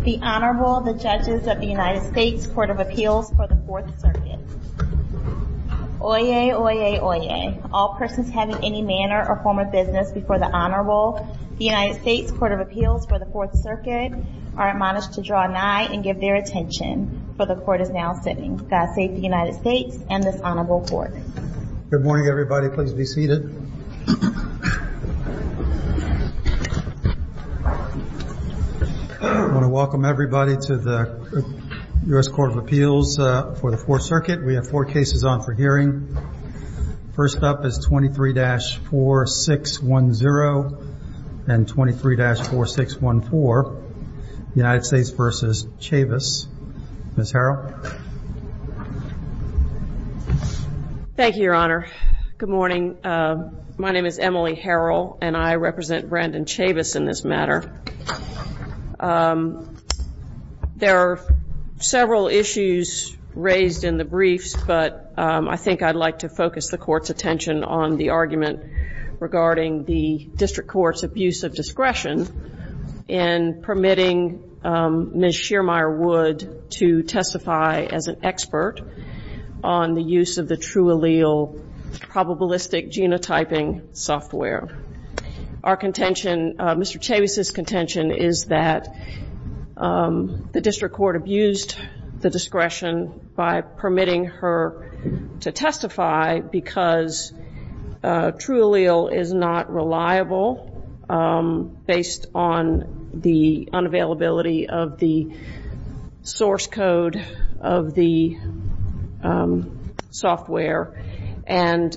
The Honorable, the Judges of the United States Court of Appeals for the 4th Circuit. Oyez, oyez, oyez. All persons having any manner or form of business before the Honorable, the United States Court of Appeals for the 4th Circuit, are admonished to draw an eye and give their attention. For the Court is now sitting. God Save the United States and this Honorable Court. Good morning everybody. Please be seated. I want to welcome everybody to the U.S. Court of Appeals for the 4th Circuit. We have four cases on for hearing. First up is 23-4610 and 23-4614, United States v. Chavis. Ms. Harrell. Thank you, Your Honor. Good morning. My name is Emily Harrell and I represent Brandon Chavis in this matter. There are several issues raised in the briefs, but I think I'd like to focus the Court's attention on the argument regarding the District Court's abuse of discretion in permitting Ms. Shearmire Wood to testify as an expert on the use of the true allele probabilistic genotyping software. Our contention, Mr. Chavis' contention, is that the District Court abused the discretion by permitting her to testify because true allele is not reliable based on the unavailability of the source code of the software and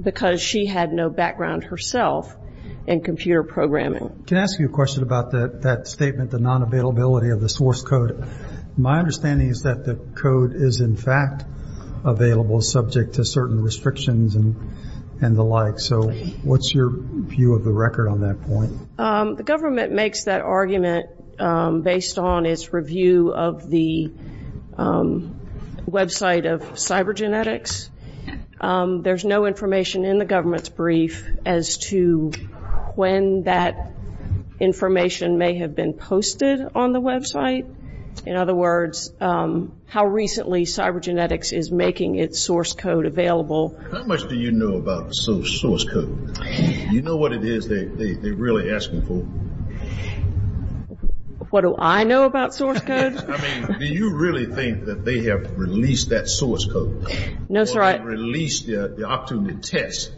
because she had no background herself in computer programming. Can I ask you a question about that statement, the non-availability of the source code? My understanding is that the code is, in fact, available subject to certain restrictions and the like. So what's your view of the record on that point? The government makes that argument based on its review of the website of cybergenetics. There's no information in the government's brief as to when that information may have been posted on the website. In other words, how recently cybergenetics is making its source code available. How much do you know about the source code? Do you know what it is they're really asking for? What do I know about source codes? I mean, do you really think that they have released that source code? No, sir. Or released the opportunity test?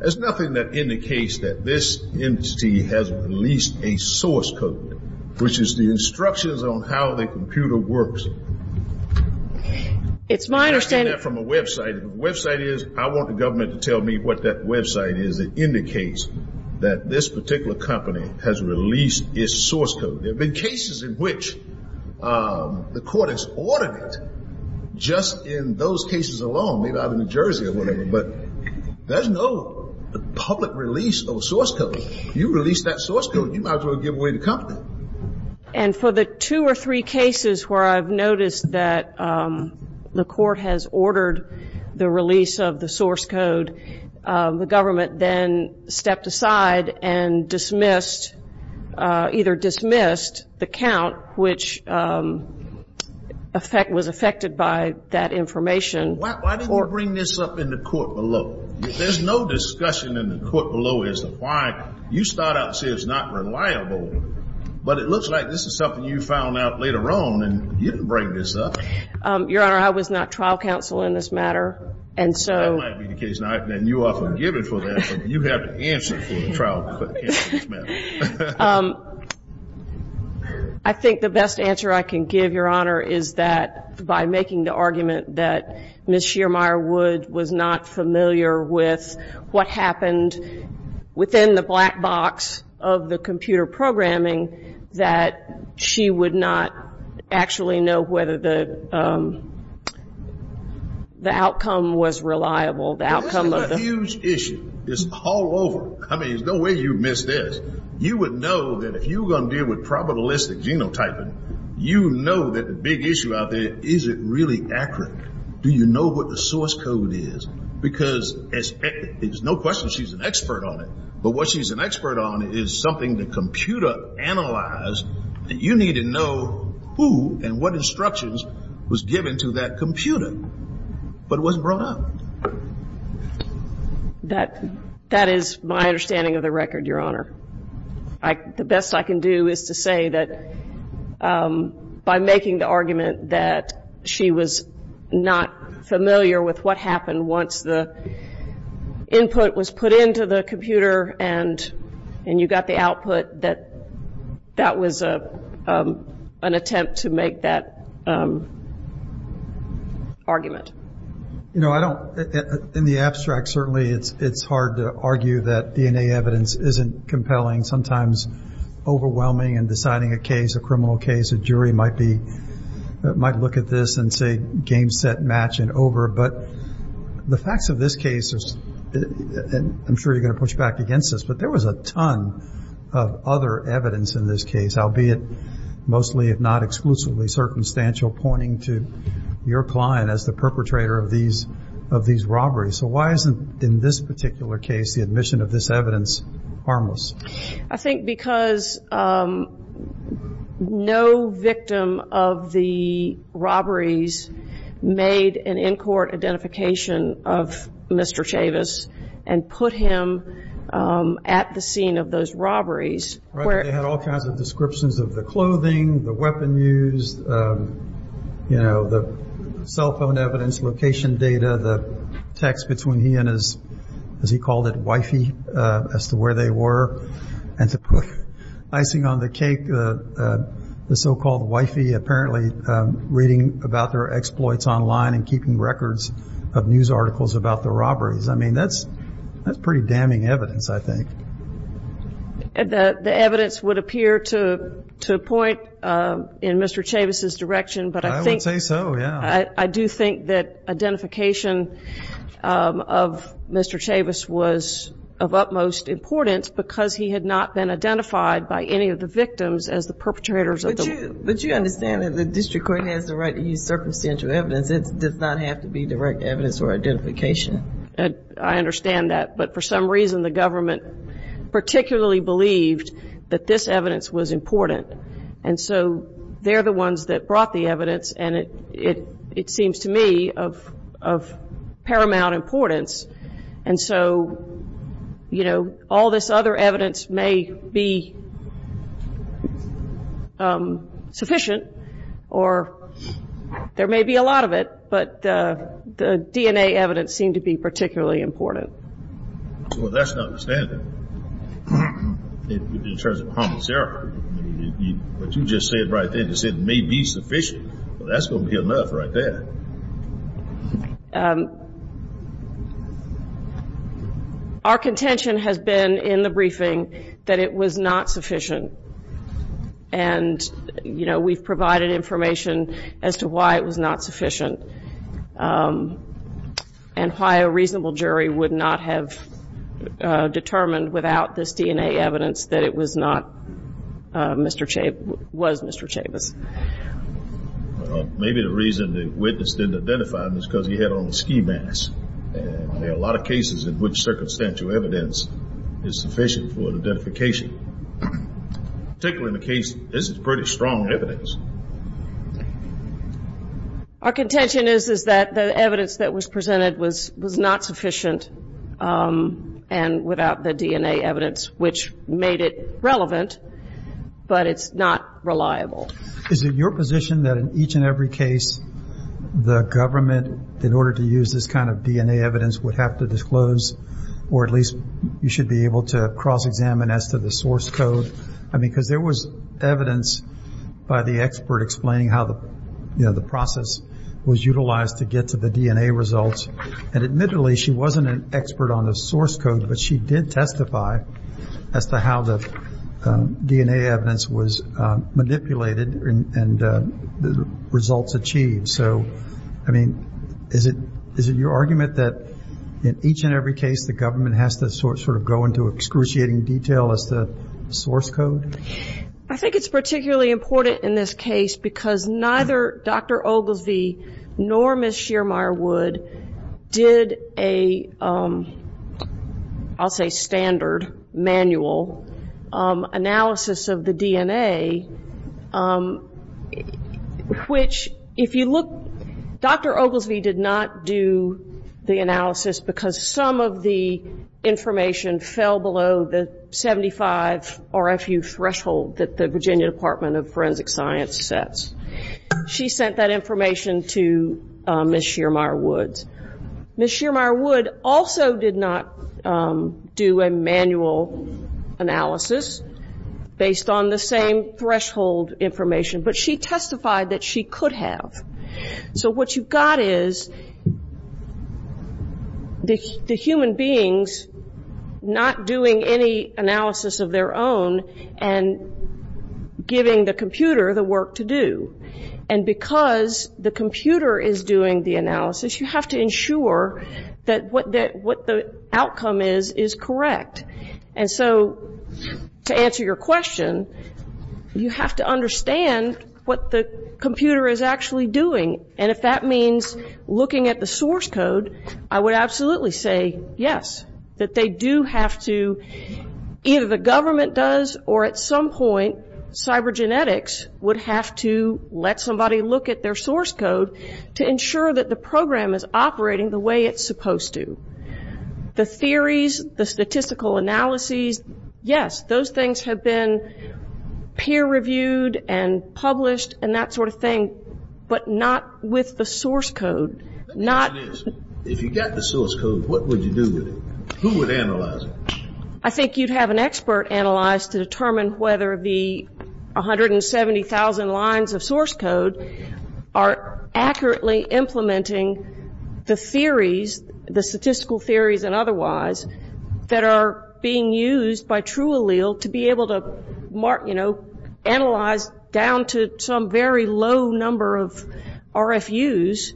There's nothing that indicates that this entity has released a source code, which is the instructions on how the computer works. It's my understanding. You're asking that from a website. If the website is, I want the government to tell me what that website is that indicates that this particular company has released its source code. There have been cases in which the court has ordered it just in those cases alone. Maybe out of New Jersey or whatever. But there's no public release of a source code. You release that source code, you might as well give away the company. And for the two or three cases where I've noticed that the court has ordered the release of the source code, the government then stepped aside and dismissed, either dismissed the count, which was affected by that information. Why didn't the court bring this up in the court below? There's no discussion in the court below as to why. You start out and say it's not reliable, but it looks like this is something you found out later on and you didn't bring this up. Your Honor, I was not trial counsel in this matter. That might be the case. And you often give it for that, but you have to answer for the trial counsel in this matter. I think the best answer I can give, Your Honor, is that by making the argument that Ms. Shearmire Wood was not familiar with what happened within the black box of the computer programming, that she would not actually know whether the outcome was reliable. The outcome of the- This is a huge issue. It's all over. I mean, there's no way you'd miss this. You would know that if you were going to deal with probabilistic genotyping, you know that the big issue out there, is it really accurate? Do you know what the source code is? Because it's no question she's an expert on it. But what she's an expert on is something the computer analyzed, and you need to know who and what instructions was given to that computer. But it wasn't brought up. That is my understanding of the record, Your Honor. The best I can do is to say that by making the argument that she was not familiar with what happened once the input was put into the computer and you got the output, that that was an attempt to make that argument. You know, in the abstract, certainly it's hard to argue that DNA evidence isn't compelling, sometimes overwhelming in deciding a case, a criminal case. A jury might look at this and say game, set, match, and over. But the facts of this case, I'm sure you're going to push back against this, but there was a ton of other evidence in this case, albeit mostly, if not exclusively, circumstantial pointing to your client as the perpetrator of these robberies. So why isn't, in this particular case, the admission of this evidence harmless? I think because no victim of the robberies made an in-court identification of Mr. Chavis and put him at the scene of those robberies. They had all kinds of descriptions of the clothing, the weapon used, you know, the cell phone evidence, location data, the text between he and his, as he called it, wifey, as to where they were. And to put icing on the cake, the so-called wifey apparently reading about their exploits online and keeping records of news articles about the robberies. I mean, that's pretty damning evidence, I think. The evidence would appear to point in Mr. Chavis' direction. I would say so, yeah. I do think that identification of Mr. Chavis was of utmost importance because he had not been identified by any of the victims as the perpetrators of the robberies. But you understand that the district court has the right to use circumstantial evidence. It does not have to be direct evidence or identification. I understand that. But for some reason, the government particularly believed that this evidence was important. And so they're the ones that brought the evidence, and it seems to me of paramount importance. And so, you know, all this other evidence may be sufficient or there may be a lot of it, but the DNA evidence seemed to be particularly important. Well, that's not the standard in terms of homicidal. What you just said right there, you said it may be sufficient. Well, that's going to be enough right there. Our contention has been in the briefing that it was not sufficient. And, you know, we've provided information as to why it was not sufficient and why a reasonable jury would not have determined without this DNA evidence that it was not Mr. Chavis, was Mr. Chavis. Well, maybe the reason the witness didn't identify him is because he had on a ski mask. And there are a lot of cases in which circumstantial evidence is sufficient for identification. Particularly in the case, this is pretty strong evidence. Our contention is that the evidence that was presented was not sufficient and without the DNA evidence, which made it relevant, but it's not reliable. Is it your position that in each and every case, the government in order to use this kind of DNA evidence would have to disclose or at least you should be able to cross-examine as to the source code? I mean, because there was evidence by the expert explaining how the process was utilized to get to the DNA results. And admittedly, she wasn't an expert on the source code, but she did testify as to how the DNA evidence was manipulated and the results achieved. So, I mean, is it your argument that in each and every case, the government has to sort of go into excruciating detail as to the source code? I think it's particularly important in this case because neither Dr. Oglesby nor Ms. Shearmire Wood did a, I'll say standard manual analysis of the DNA, which if you look, Dr. Oglesby did not do the analysis because some of the information fell below the 75 RFU threshold that the Virginia Department of Forensic Science sets. She sent that information to Ms. Shearmire Wood. Ms. Shearmire Wood also did not do a manual analysis based on the same threshold information, but she testified that she could have. So what you've got is the human beings not doing any analysis of their own and giving the computer the work to do. And because the computer is doing the analysis, you have to ensure that what the outcome is is correct. And so to answer your question, you have to understand what the computer is actually doing. And if that means looking at the source code, I would absolutely say yes, that they do have to, either the government does or at some point, cybergenetics would have to let somebody look at their source code to ensure that the program is operating the way it's supposed to. The theories, the statistical analyses, yes, those things have been peer-reviewed and published and that sort of thing, but not with the source code. If you got the source code, what would you do with it? Who would analyze it? I think you'd have an expert analyze to determine whether the 170,000 lines of source code are accurately implementing the theories, the statistical theories and otherwise, that are being used by true allele to be able to, you know, analyze down to some very low number of RFUs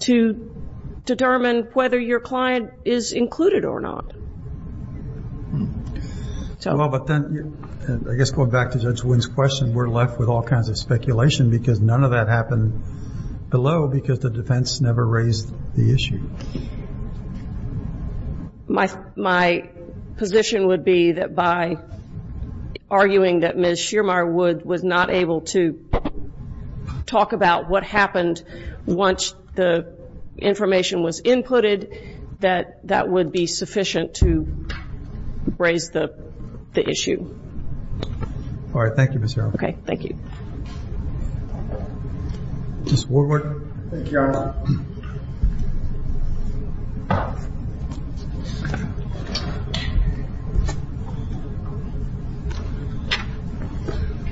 to determine whether your client is included or not. Well, but then I guess going back to Judge Wood's question, we're left with all kinds of speculation because none of that happened below because the defense never raised the issue. My position would be that by arguing that Ms. Schirmer was not able to talk about what happened once the information was inputted, that that would be sufficient to raise the issue. All right. Thank you, Ms. Yarbrough. Okay. Thank you. Mr. Woodward. Thank you, Your Honor.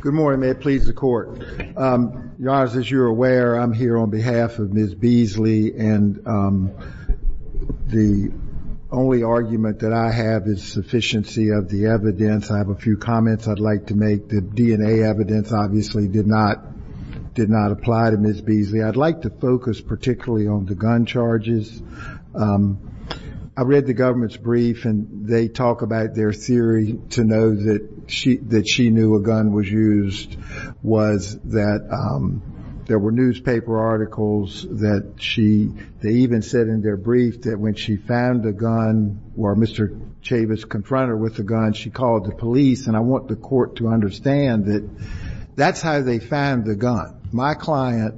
Good morning. May it please the Court. Your Honor, as you're aware, I'm here on behalf of Ms. Beasley, and the only argument that I have is sufficiency of the evidence. I have a few comments I'd like to make. The DNA evidence obviously did not apply to Ms. Beasley. I'd like to focus particularly on the gun charges. I read the government's brief, and they talk about their theory to know that she knew a gun was used, was that there were newspaper articles that she even said in their brief that when she found a gun or Mr. Chavis confronted her with a gun, she called the police, and I want the Court to understand that that's how they found the gun. My client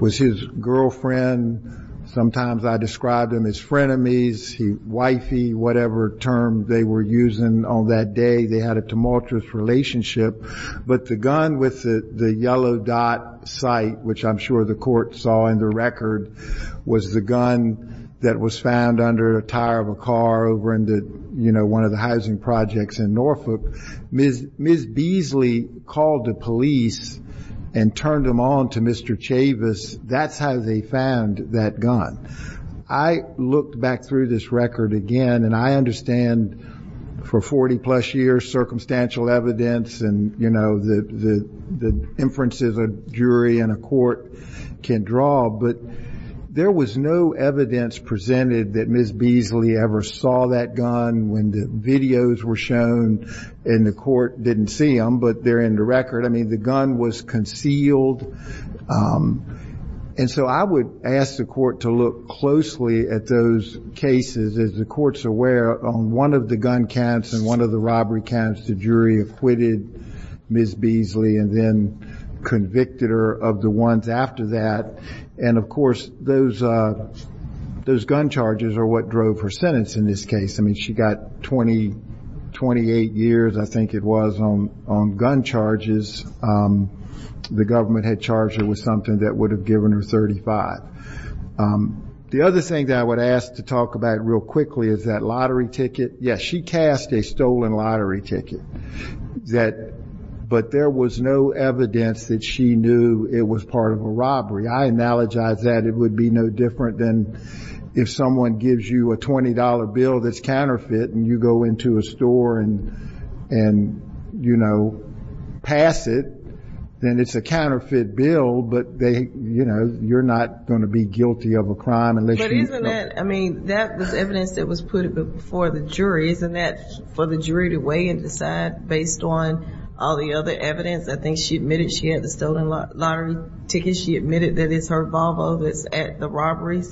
was his girlfriend. Sometimes I described him as frenemies, wifey, whatever term they were using on that day. They had a tumultuous relationship. But the gun with the yellow dot sight, which I'm sure the Court saw in the record, was the gun that was found under a tire of a car over in one of the housing projects in Norfolk. Ms. Beasley called the police and turned them on to Mr. Chavis. That's how they found that gun. I looked back through this record again, and I understand for 40-plus years, circumstantial evidence and the inferences a jury and a court can draw, but there was no evidence presented that Ms. Beasley ever saw that gun. When the videos were shown and the court didn't see them, but they're in the record, I mean, the gun was concealed. And so I would ask the Court to look closely at those cases. As the Court's aware, on one of the gun counts and one of the robbery counts, the jury acquitted Ms. Beasley and then convicted her of the ones after that. And, of course, those gun charges are what drove her sentence in this case. I mean, she got 28 years, I think it was, on gun charges. The government had charged her with something that would have given her 35. The other thing that I would ask to talk about real quickly is that lottery ticket. Yes, she cast a stolen lottery ticket, but there was no evidence that she knew it was part of a robbery. I analogize that. It would be no different than if someone gives you a $20 bill that's counterfeit and you go into a store and, you know, pass it, then it's a counterfeit bill, but, you know, you're not going to be guilty of a crime unless you know. But isn't that, I mean, that was evidence that was put before the jury. Isn't that for the jury to weigh and decide based on all the other evidence? I think she admitted she had the stolen lottery ticket. She admitted that it's her Volvo that's at the robberies.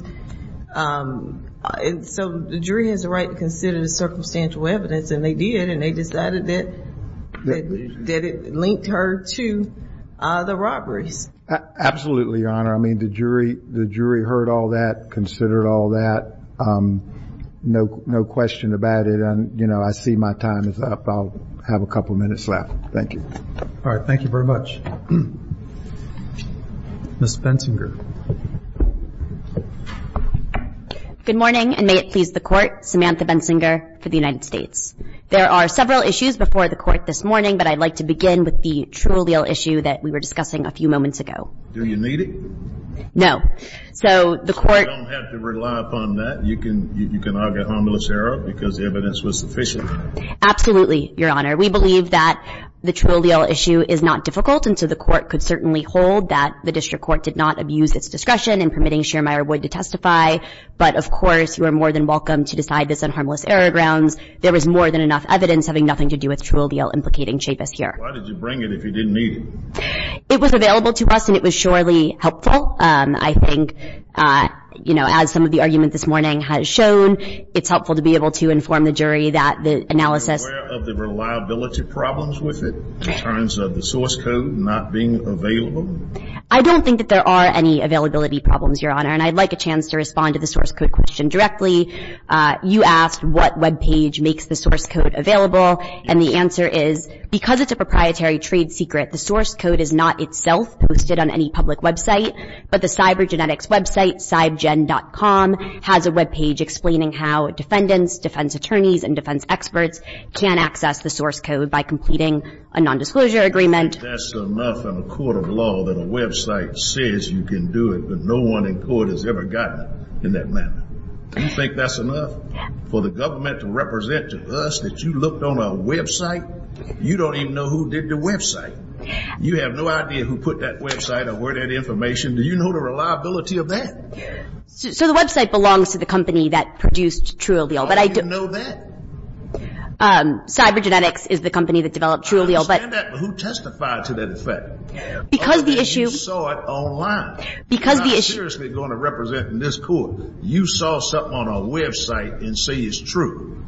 So the jury has a right to consider the circumstantial evidence, and they did, and they decided that it linked her to the robberies. Absolutely, Your Honor. I mean, the jury heard all that, considered all that. No question about it. I see my time is up. I'll have a couple minutes left. Thank you. All right. Thank you very much. Ms. Bensinger. Good morning, and may it please the Court. Samantha Bensinger for the United States. There are several issues before the Court this morning, but I'd like to begin with the Trulio issue that we were discussing a few moments ago. Do you need it? No. So the Court So you don't have to rely upon that. You can argue a homilious error because the evidence was sufficient. Absolutely, Your Honor. We believe that the Trulio issue is not difficult, and so the Court could certainly hold that the district court did not abuse its discretion in permitting Shearmeyer Wood to testify. But, of course, you are more than welcome to decide this on harmless error grounds. There was more than enough evidence having nothing to do with Trulio implicating Chavis here. Why did you bring it if you didn't need it? It was available to us, and it was surely helpful. I think, you know, as some of the argument this morning has shown, it's helpful to be able to inform the jury that the analysis Are you aware of the reliability problems with it in terms of the source code not being available? I don't think that there are any availability problems, Your Honor, and I'd like a chance to respond to the source code question directly. You asked what Web page makes the source code available, and the answer is because it's a proprietary trade secret, the source code is not itself posted on any public Web site, but the cyber genetics Web site, has a Web page explaining how defendants, defense attorneys, and defense experts can access the source code by completing a nondisclosure agreement. That's enough in a court of law that a Web site says you can do it, but no one in court has ever gotten it in that manner. Do you think that's enough for the government to represent to us that you looked on a Web site? You don't even know who did the Web site. You have no idea who put that Web site or where that information. Do you know the reliability of that? So the Web site belongs to the company that produced TrueAllele. How do you know that? Cyber genetics is the company that developed TrueAllele. I understand that, but who testified to that fact? You saw it online. You're not seriously going to represent this court. You saw something on a Web site and say it's true.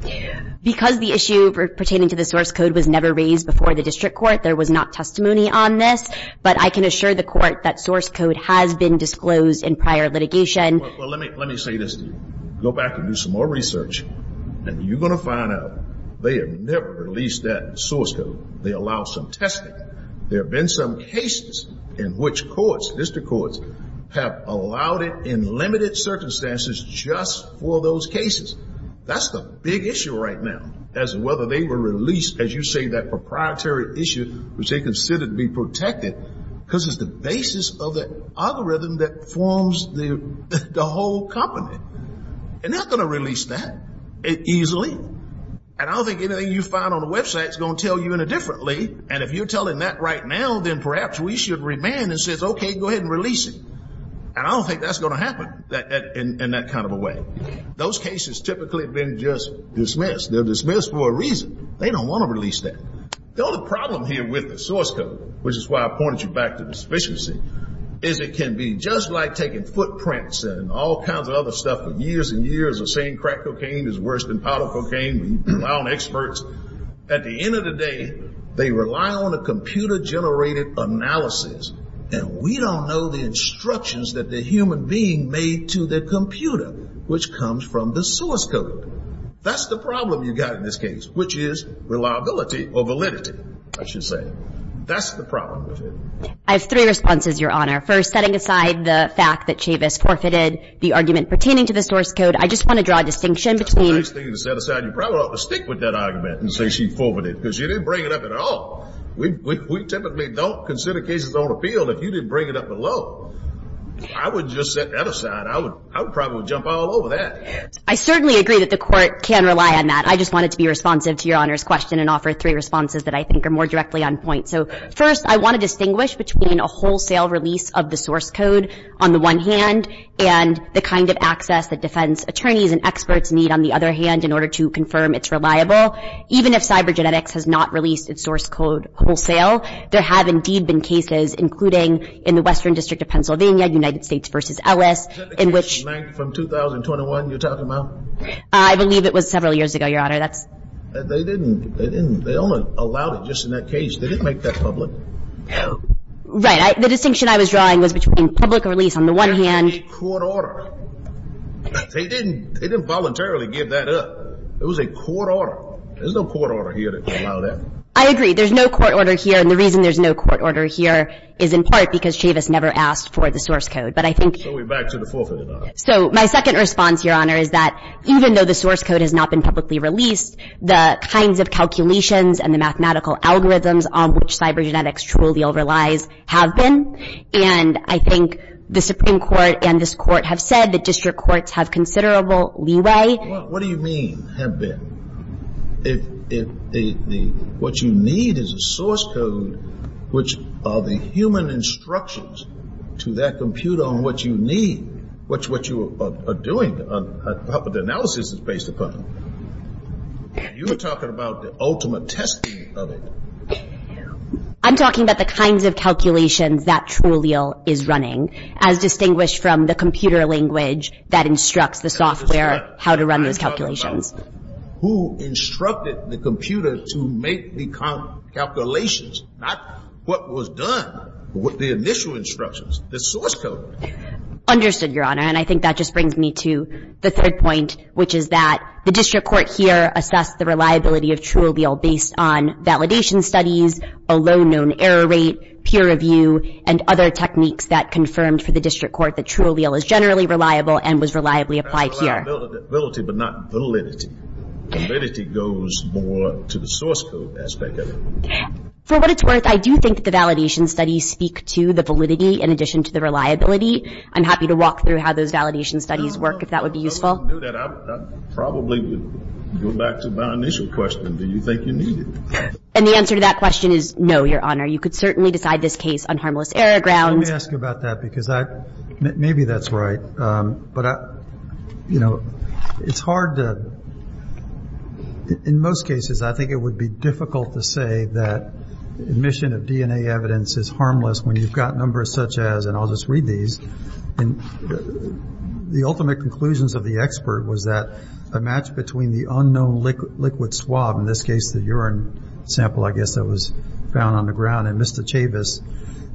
Because the issue pertaining to the source code was never raised before the district court, there was not testimony on this, but I can assure the court that source code has been disclosed in prior litigation. Well, let me say this to you. Go back and do some more research, and you're going to find out they have never released that source code. They allowed some testing. There have been some cases in which courts, district courts, have allowed it in limited circumstances just for those cases. That's the big issue right now as to whether they were released, as you say, that proprietary issue which they considered to be protected, because it's the basis of the algorithm that forms the whole company. They're not going to release that easily. And I don't think anything you find on the Web site is going to tell you any differently, and if you're telling that right now, then perhaps we should remand and say, okay, go ahead and release it. And I don't think that's going to happen in that kind of a way. Those cases typically have been just dismissed. They're dismissed for a reason. They don't want to release that. The only problem here with the source code, which is why I pointed you back to the sufficiency, is it can be just like taking footprints and all kinds of other stuff for years and years of saying crack cocaine is worse than powder cocaine. We rely on experts. At the end of the day, they rely on a computer-generated analysis, and we don't know the instructions that the human being made to the computer, which comes from the source code. That's the problem you've got in this case, which is reliability or validity, I should say. That's the problem with it. I have three responses, Your Honor. First, setting aside the fact that Chavis forfeited the argument pertaining to the source code, I just want to draw a distinction between. That's a nice thing to set aside. You probably ought to stick with that argument and say she forfeited because you didn't bring it up at all. We typically don't consider cases on appeal if you didn't bring it up at all. I would just set that aside. I would probably jump all over that. I certainly agree that the court can rely on that. I just wanted to be responsive to Your Honor's question and offer three responses that I think are more directly on point. First, I want to distinguish between a wholesale release of the source code, on the one hand, and the kind of access that defense attorneys and experts need, on the other hand, in order to confirm it's reliable. Even if CyberGenetics has not released its source code wholesale, there have indeed been cases, including in the Western District of Pennsylvania, United States v. Ellis, in which. The blank from 2021 you're talking about? I believe it was several years ago, Your Honor. That's. They didn't. They only allowed it just in that case. They didn't make that public. Right. The distinction I was drawing was between public release on the one hand. It was a court order. They didn't voluntarily give that up. It was a court order. There's no court order here that would allow that. I agree. There's no court order here, and the reason there's no court order here is in part because Chavis never asked for the source code. But I think. So we're back to the forfeit. So my second response, Your Honor, is that even though the source code has not been publicly released, the kinds of calculations and the mathematical algorithms on which CyberGenetics truly overlies have been. And I think the Supreme Court and this Court have said that district courts have considerable leeway. What do you mean have been? If what you need is a source code, which are the human instructions to that computer on what you need, what you are doing, how the analysis is based upon, you're talking about the ultimate testing of it. I'm talking about the kinds of calculations that Trulio is running, as distinguished from the computer language that instructs the software how to run those calculations. Who instructed the computer to make the calculations, not what was done, but the initial instructions, the source code. Understood, Your Honor. And I think that just brings me to the third point, which is that the district court here assessed the reliability of Trulio based on validation studies, a low known error rate, peer review, and other techniques that confirmed for the district court that Trulio is generally reliable and was reliably applied here. Reliability, but not validity. Validity goes more to the source code aspect of it. For what it's worth, I do think the validation studies speak to the validity in addition to the reliability. I'm happy to walk through how those validation studies work, if that would be useful. I probably would go back to my initial question. Do you think you need it? And the answer to that question is no, Your Honor. You could certainly decide this case on harmless error grounds. Let me ask you about that, because maybe that's right. But, you know, it's hard to, in most cases, I think it would be difficult to say that admission of DNA evidence is harmless when you've got numbers such as, and I'll just read these, the ultimate conclusions of the expert was that a match between the unknown liquid swab, in this case the urine sample I guess that was found on the ground in Mr. Chavis,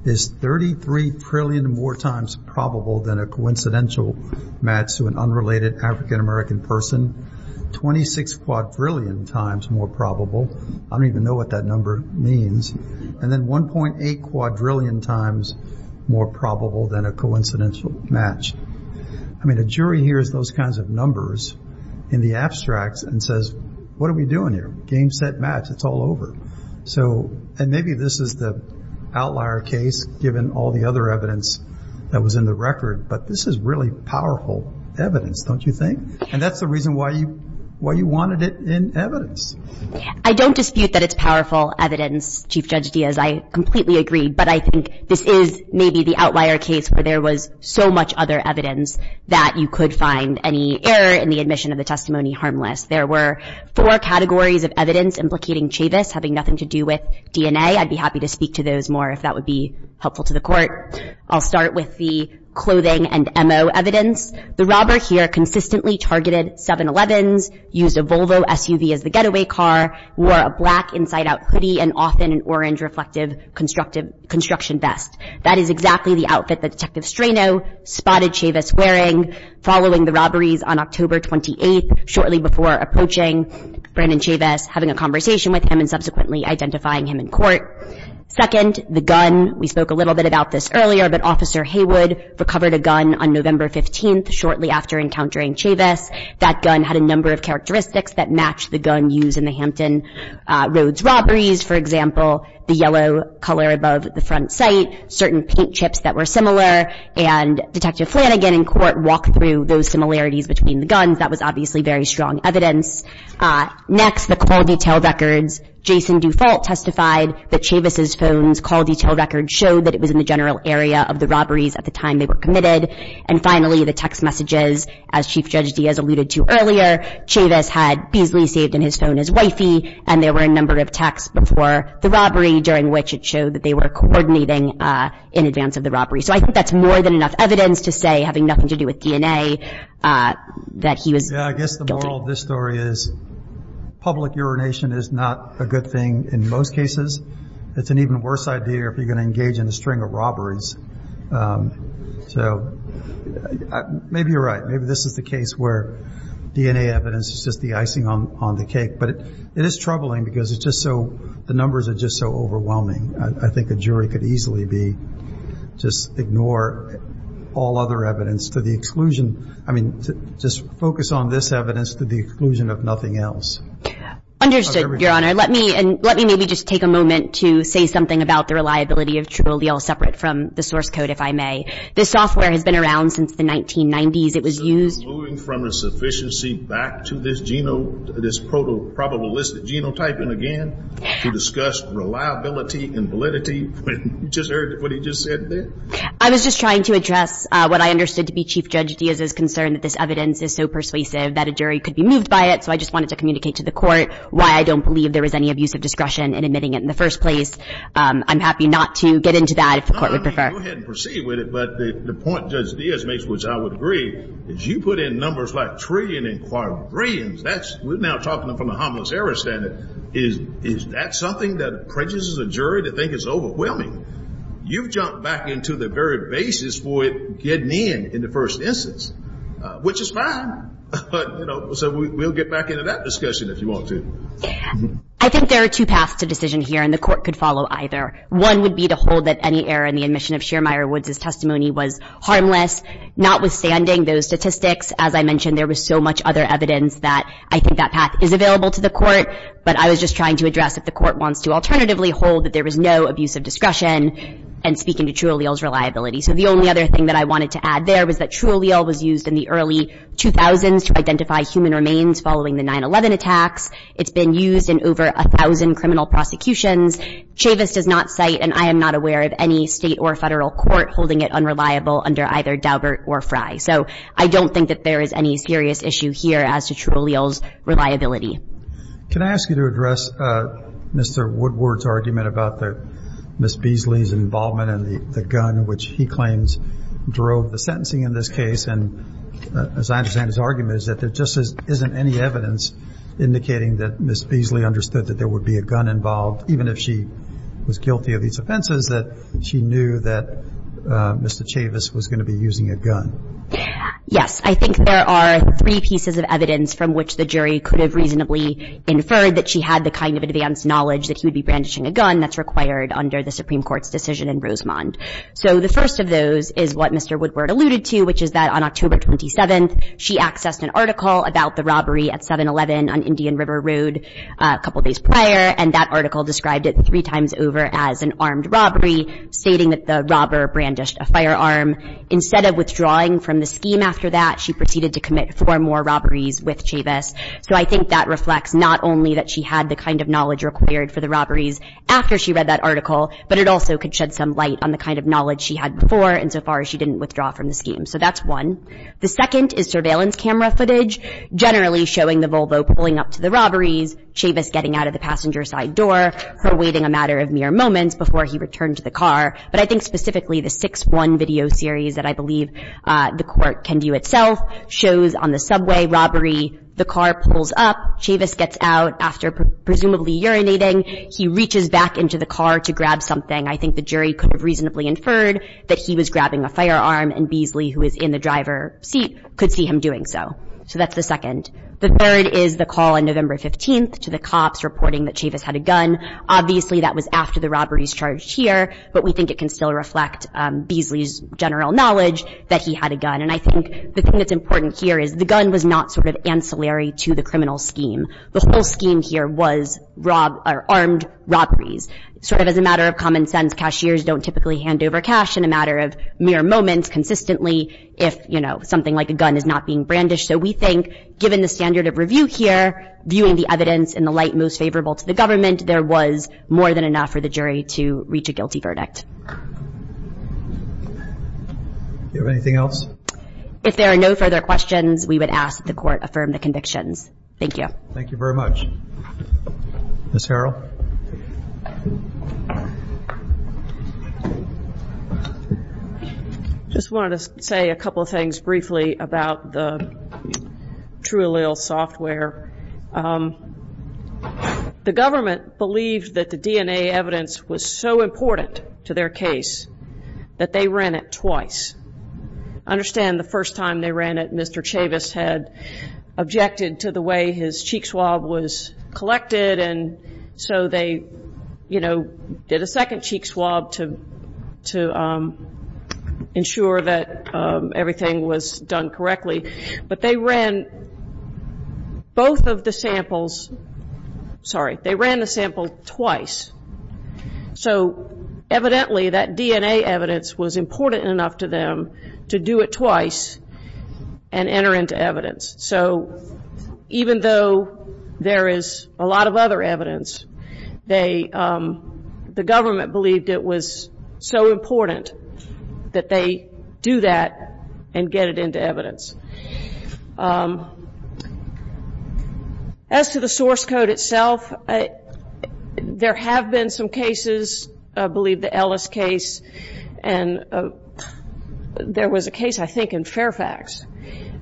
is 33 trillion more times probable than a coincidental match to an unrelated African-American person, 26 quadrillion times more probable, I don't even know what that number means, and then 1.8 quadrillion times more probable than a coincidental match. I mean, a jury hears those kinds of numbers in the abstracts and says, what are we doing here? Game, set, match. It's all over. So, and maybe this is the outlier case, given all the other evidence that was in the record, but this is really powerful evidence, don't you think? And that's the reason why you wanted it in evidence. I don't dispute that it's powerful evidence, Chief Judge Diaz, I completely agree, but I think this is maybe the outlier case where there was so much other evidence that you could find any error in the admission of the testimony harmless. There were four categories of evidence implicating Chavis having nothing to do with DNA. I'd be happy to speak to those more if that would be helpful to the court. I'll start with the clothing and MO evidence. The robber here consistently targeted 7-Elevens, used a Volvo SUV as the getaway car, wore a black inside-out hoodie, and often an orange reflective construction vest. That is exactly the outfit that Detective Strano spotted Chavis wearing following the robberies on October 28th, shortly before approaching Brandon Chavis, having a conversation with him, and subsequently identifying him in court. Second, the gun. We spoke a little bit about this earlier, but Officer Haywood recovered a gun on November 15th, shortly after encountering Chavis. That gun had a number of characteristics that matched the gun used in the Hampton Roads robberies. For example, the yellow color above the front sight, certain paint chips that were similar, and Detective Flanagan in court walked through those similarities between the guns. That was obviously very strong evidence. Next, the call detail records. Jason Dufault testified that Chavis' phone's call detail record showed that it was in the general area of the robberies at the time they were committed. And finally, the text messages. As Chief Judge Diaz alluded to earlier, Chavis had Beasley saved in his phone as wifey, and there were a number of texts before the robbery, during which it showed that they were coordinating in advance of the robbery. So I think that's more than enough evidence to say, having nothing to do with DNA, that he was guilty. Yeah, I guess the moral of this story is public urination is not a good thing in most cases. It's an even worse idea if you're going to engage in a string of robberies. So maybe you're right. Maybe this is the case where DNA evidence is just the icing on the cake. But it is troubling because it's just so – the numbers are just so overwhelming. I think a jury could easily be – just ignore all other evidence to the exclusion – I mean, just focus on this evidence to the exclusion of nothing else. Understood, Your Honor. Let me – and let me maybe just take a moment to say something about the reliability of Trulia, all separate from the source code, if I may. This software has been around since the 1990s. It was used – We're moving from a sufficiency back to this genotype – this probabilistic genotype, to discuss reliability and validity. You just heard what he just said there. I was just trying to address what I understood to be Chief Judge Diaz's concern that this evidence is so persuasive that a jury could be moved by it, so I just wanted to communicate to the court why I don't believe there was any abuse of discretion in admitting it in the first place. I'm happy not to get into that if the court would prefer. Go ahead and proceed with it. But the point Judge Diaz makes, which I would agree, is you put in numbers like trillion and quadrillions. That's – we're now talking from a harmless error standard. Is that something that prejudices a jury to think it's overwhelming? You've jumped back into the very basis for it getting in in the first instance, which is fine. But, you know, so we'll get back into that discussion if you want to. I think there are two paths to decision here, and the court could follow either. One would be to hold that any error in the admission of Shearmire Woods' testimony was harmless, notwithstanding those statistics. As I mentioned, there was so much other evidence that I think that path is available to the court, but I was just trying to address if the court wants to alternatively hold that there was no abuse of discretion and speak into Trulial's reliability. So the only other thing that I wanted to add there was that Trulial was used in the early 2000s to identify human remains following the 9-11 attacks. It's been used in over 1,000 criminal prosecutions. Chavis does not cite, and I am not aware of any state or federal court holding it unreliable under either Daubert or Frye. So I don't think that there is any serious issue here as to Trulial's reliability. Can I ask you to address Mr. Woodward's argument about Ms. Beasley's involvement in the gun, which he claims drove the sentencing in this case? And as I understand his argument, is that there just isn't any evidence indicating that Ms. Beasley understood that there would be a gun involved, even if she was guilty of these offenses, that she knew that Mr. Chavis was going to be using a gun? Yes. I think there are three pieces of evidence from which the jury could have reasonably inferred that she had the kind of advanced knowledge that he would be brandishing a gun that's required under the Supreme Court's decision in Rosemont. So the first of those is what Mr. Woodward alluded to, which is that on October 27th, she accessed an article about the robbery at 7-11 on Indian River Road a couple days prior, and that article described it three times over as an armed robbery, stating that the robber brandished a firearm. Instead of withdrawing from the scheme after that, she proceeded to commit four more robberies with Chavis. So I think that reflects not only that she had the kind of knowledge required for the robberies after she read that article, but it also could shed some light on the kind of knowledge she had before, insofar as she didn't withdraw from the scheme. So that's one. The second is surveillance camera footage, generally showing the Volvo pulling up to the robberies, Chavis getting out of the passenger side door, her waiting a matter of mere moments before he returned to the car. But I think specifically the 6-1 video series that I believe the Court can do itself shows on the subway robbery, the car pulls up, Chavis gets out after presumably urinating. He reaches back into the car to grab something. I think the jury could have reasonably inferred that he was grabbing a firearm, and Beasley, who is in the driver's seat, could see him doing so. So that's the second. The third is the call on November 15th to the cops reporting that Chavis had a gun. Obviously that was after the robberies charged here, but we think it can still reflect Beasley's general knowledge that he had a gun. And I think the thing that's important here is the gun was not sort of ancillary to the criminal scheme. The whole scheme here was armed robberies. Sort of as a matter of common sense, cashiers don't typically hand over cash in a matter of mere moments consistently if, you know, something like a gun is not being brandished. So we think, given the standard of review here, viewing the evidence in the light most favorable to the government, there was more than enough for the jury to reach a guilty verdict. Do you have anything else? If there are no further questions, we would ask that the Court affirm the convictions. Thank you. Thank you very much. Ms. Harrell? Ms. Harrell. I just wanted to say a couple of things briefly about the TrueAllele software. The government believed that the DNA evidence was so important to their case that they ran it twice. I understand the first time they ran it, Mr. Chavis had objected to the way his cheek swab was collected, and so they, you know, did a second cheek swab to ensure that everything was done correctly. But they ran both of the samples, sorry, they ran the sample twice. So evidently that DNA evidence was important enough to them to do it twice and enter into evidence. So even though there is a lot of other evidence, the government believed it was so important that they do that and get it into evidence. As to the source code itself, there have been some cases, I believe the Ellis case, and there was a case I think in Fairfax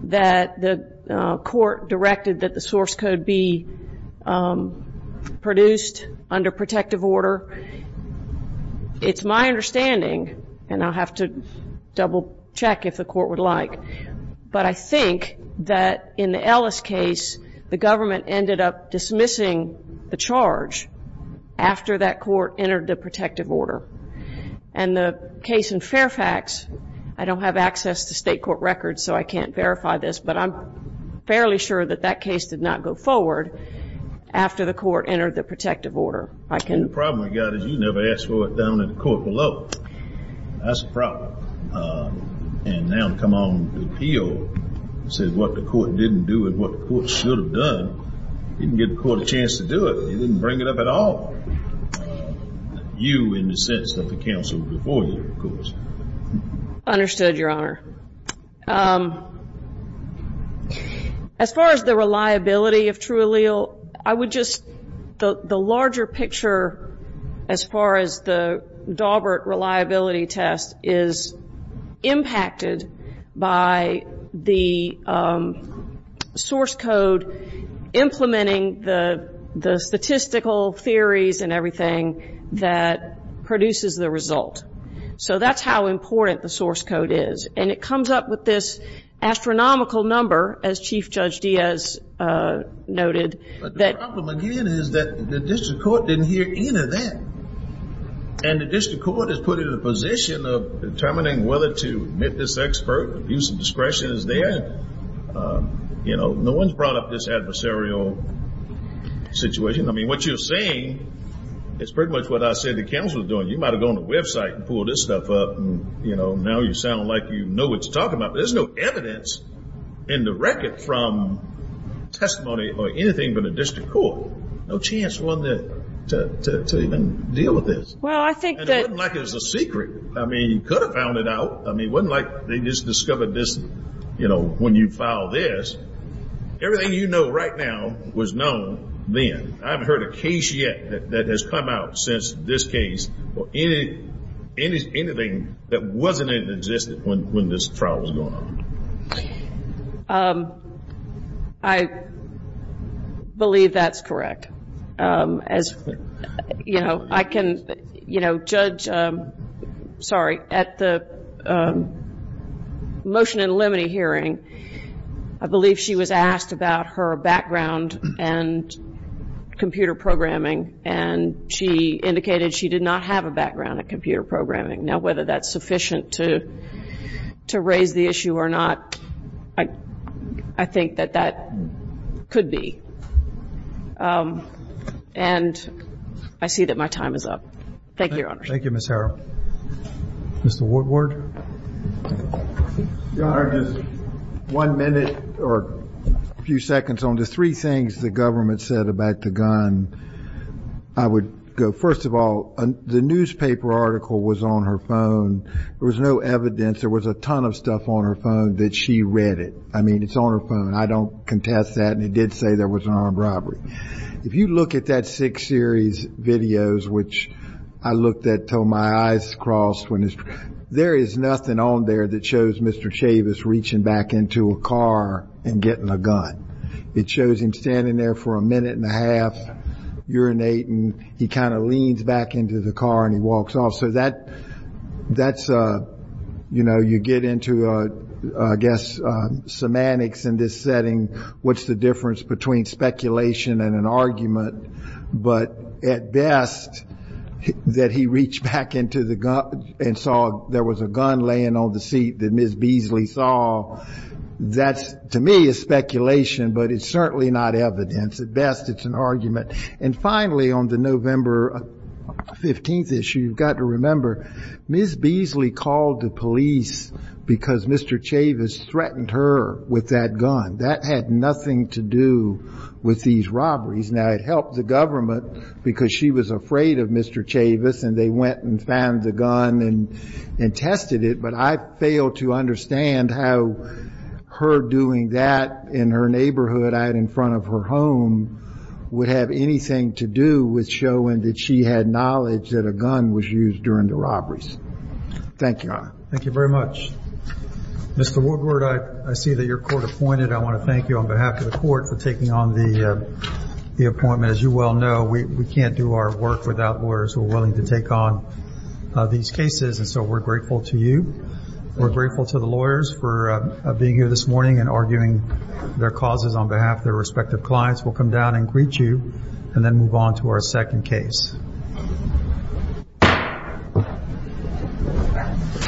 that the court directed that the source code be produced under protective order. It's my understanding, and I'll have to double check if the court would like, but I think that in the Ellis case the government ended up dismissing the charge after that court entered the protective order. And the case in Fairfax, I don't have access to state court records so I can't verify this, but I'm fairly sure that that case did not go forward after the court entered the protective order. The problem we've got is you never asked for it down in the court below. That's a problem. And now to come on the appeal and say what the court didn't do and what the court should have done, you didn't give the court a chance to do it. They didn't bring it up at all. You, in the sense that the counsel before you, of course. Understood, Your Honor. As far as the reliability of true allele, I would just, the larger picture as far as the Daubert reliability test is impacted by the source code implementing the statistical theories and everything that produces the result. So that's how important the source code is. And it comes up with this astronomical number, as Chief Judge Diaz noted. But the problem again is that the district court didn't hear any of that. And the district court has put it in a position of determining whether to admit this expert. Abuse of discretion is there. You know, no one's brought up this adversarial situation. I mean, what you're saying is pretty much what I said the counsel was doing. You might have gone to the website and pulled this stuff up. And, you know, now you sound like you know what you're talking about. But there's no evidence in the record from testimony or anything but the district court. No chance one to even deal with this. Well, I think that. And it wasn't like it was a secret. I mean, you could have found it out. I mean, it wasn't like they just discovered this, you know, when you filed this. Everything you know right now was known then. I haven't heard a case yet that has come out since this case, or anything that wasn't in existence when this trial was going on. I believe that's correct. As, you know, I can, you know, judge, sorry, at the motion and limine hearing, I believe she was asked about her background and computer programming. And she indicated she did not have a background in computer programming. Now, whether that's sufficient to raise the issue or not, I think that that could be. And I see that my time is up. Thank you, Your Honor. Thank you, Ms. Harrell. Mr. Woodward. Your Honor, just one minute or a few seconds on the three things the government said about the gun. I would go, first of all, the newspaper article was on her phone. There was no evidence. There was a ton of stuff on her phone that she read it. I mean, it's on her phone. I don't contest that. And it did say there was an armed robbery. If you look at that six series videos, which I looked at until my eyes crossed, there is nothing on there that shows Mr. Chavis reaching back into a car and getting a gun. It shows him standing there for a minute and a half urinating. He kind of leans back into the car and he walks off. So that's, you know, you get into, I guess, semantics in this setting. What's the difference between speculation and an argument? But at best, that he reached back into the car and saw there was a gun laying on the seat that Ms. Beasley saw, that to me is speculation, but it's certainly not evidence. At best, it's an argument. And finally, on the November 15th issue, you've got to remember, Ms. Beasley called the police because Mr. Chavis threatened her with that gun. That had nothing to do with these robberies. Now, it helped the government because she was afraid of Mr. Chavis, and they went and found the gun and tested it. But I fail to understand how her doing that in her neighborhood out in front of her home would have anything to do with showing that she had knowledge that a gun was used during the robberies. Thank you, Your Honor. Thank you very much. Mr. Woodward, I see that you're court-appointed. I want to thank you on behalf of the court for taking on the appointment. As you well know, we can't do our work without lawyers who are willing to take on these cases, and so we're grateful to you. We're grateful to the lawyers for being here this morning and arguing their causes on behalf of their respective clients. We'll come down and greet you and then move on to our second case.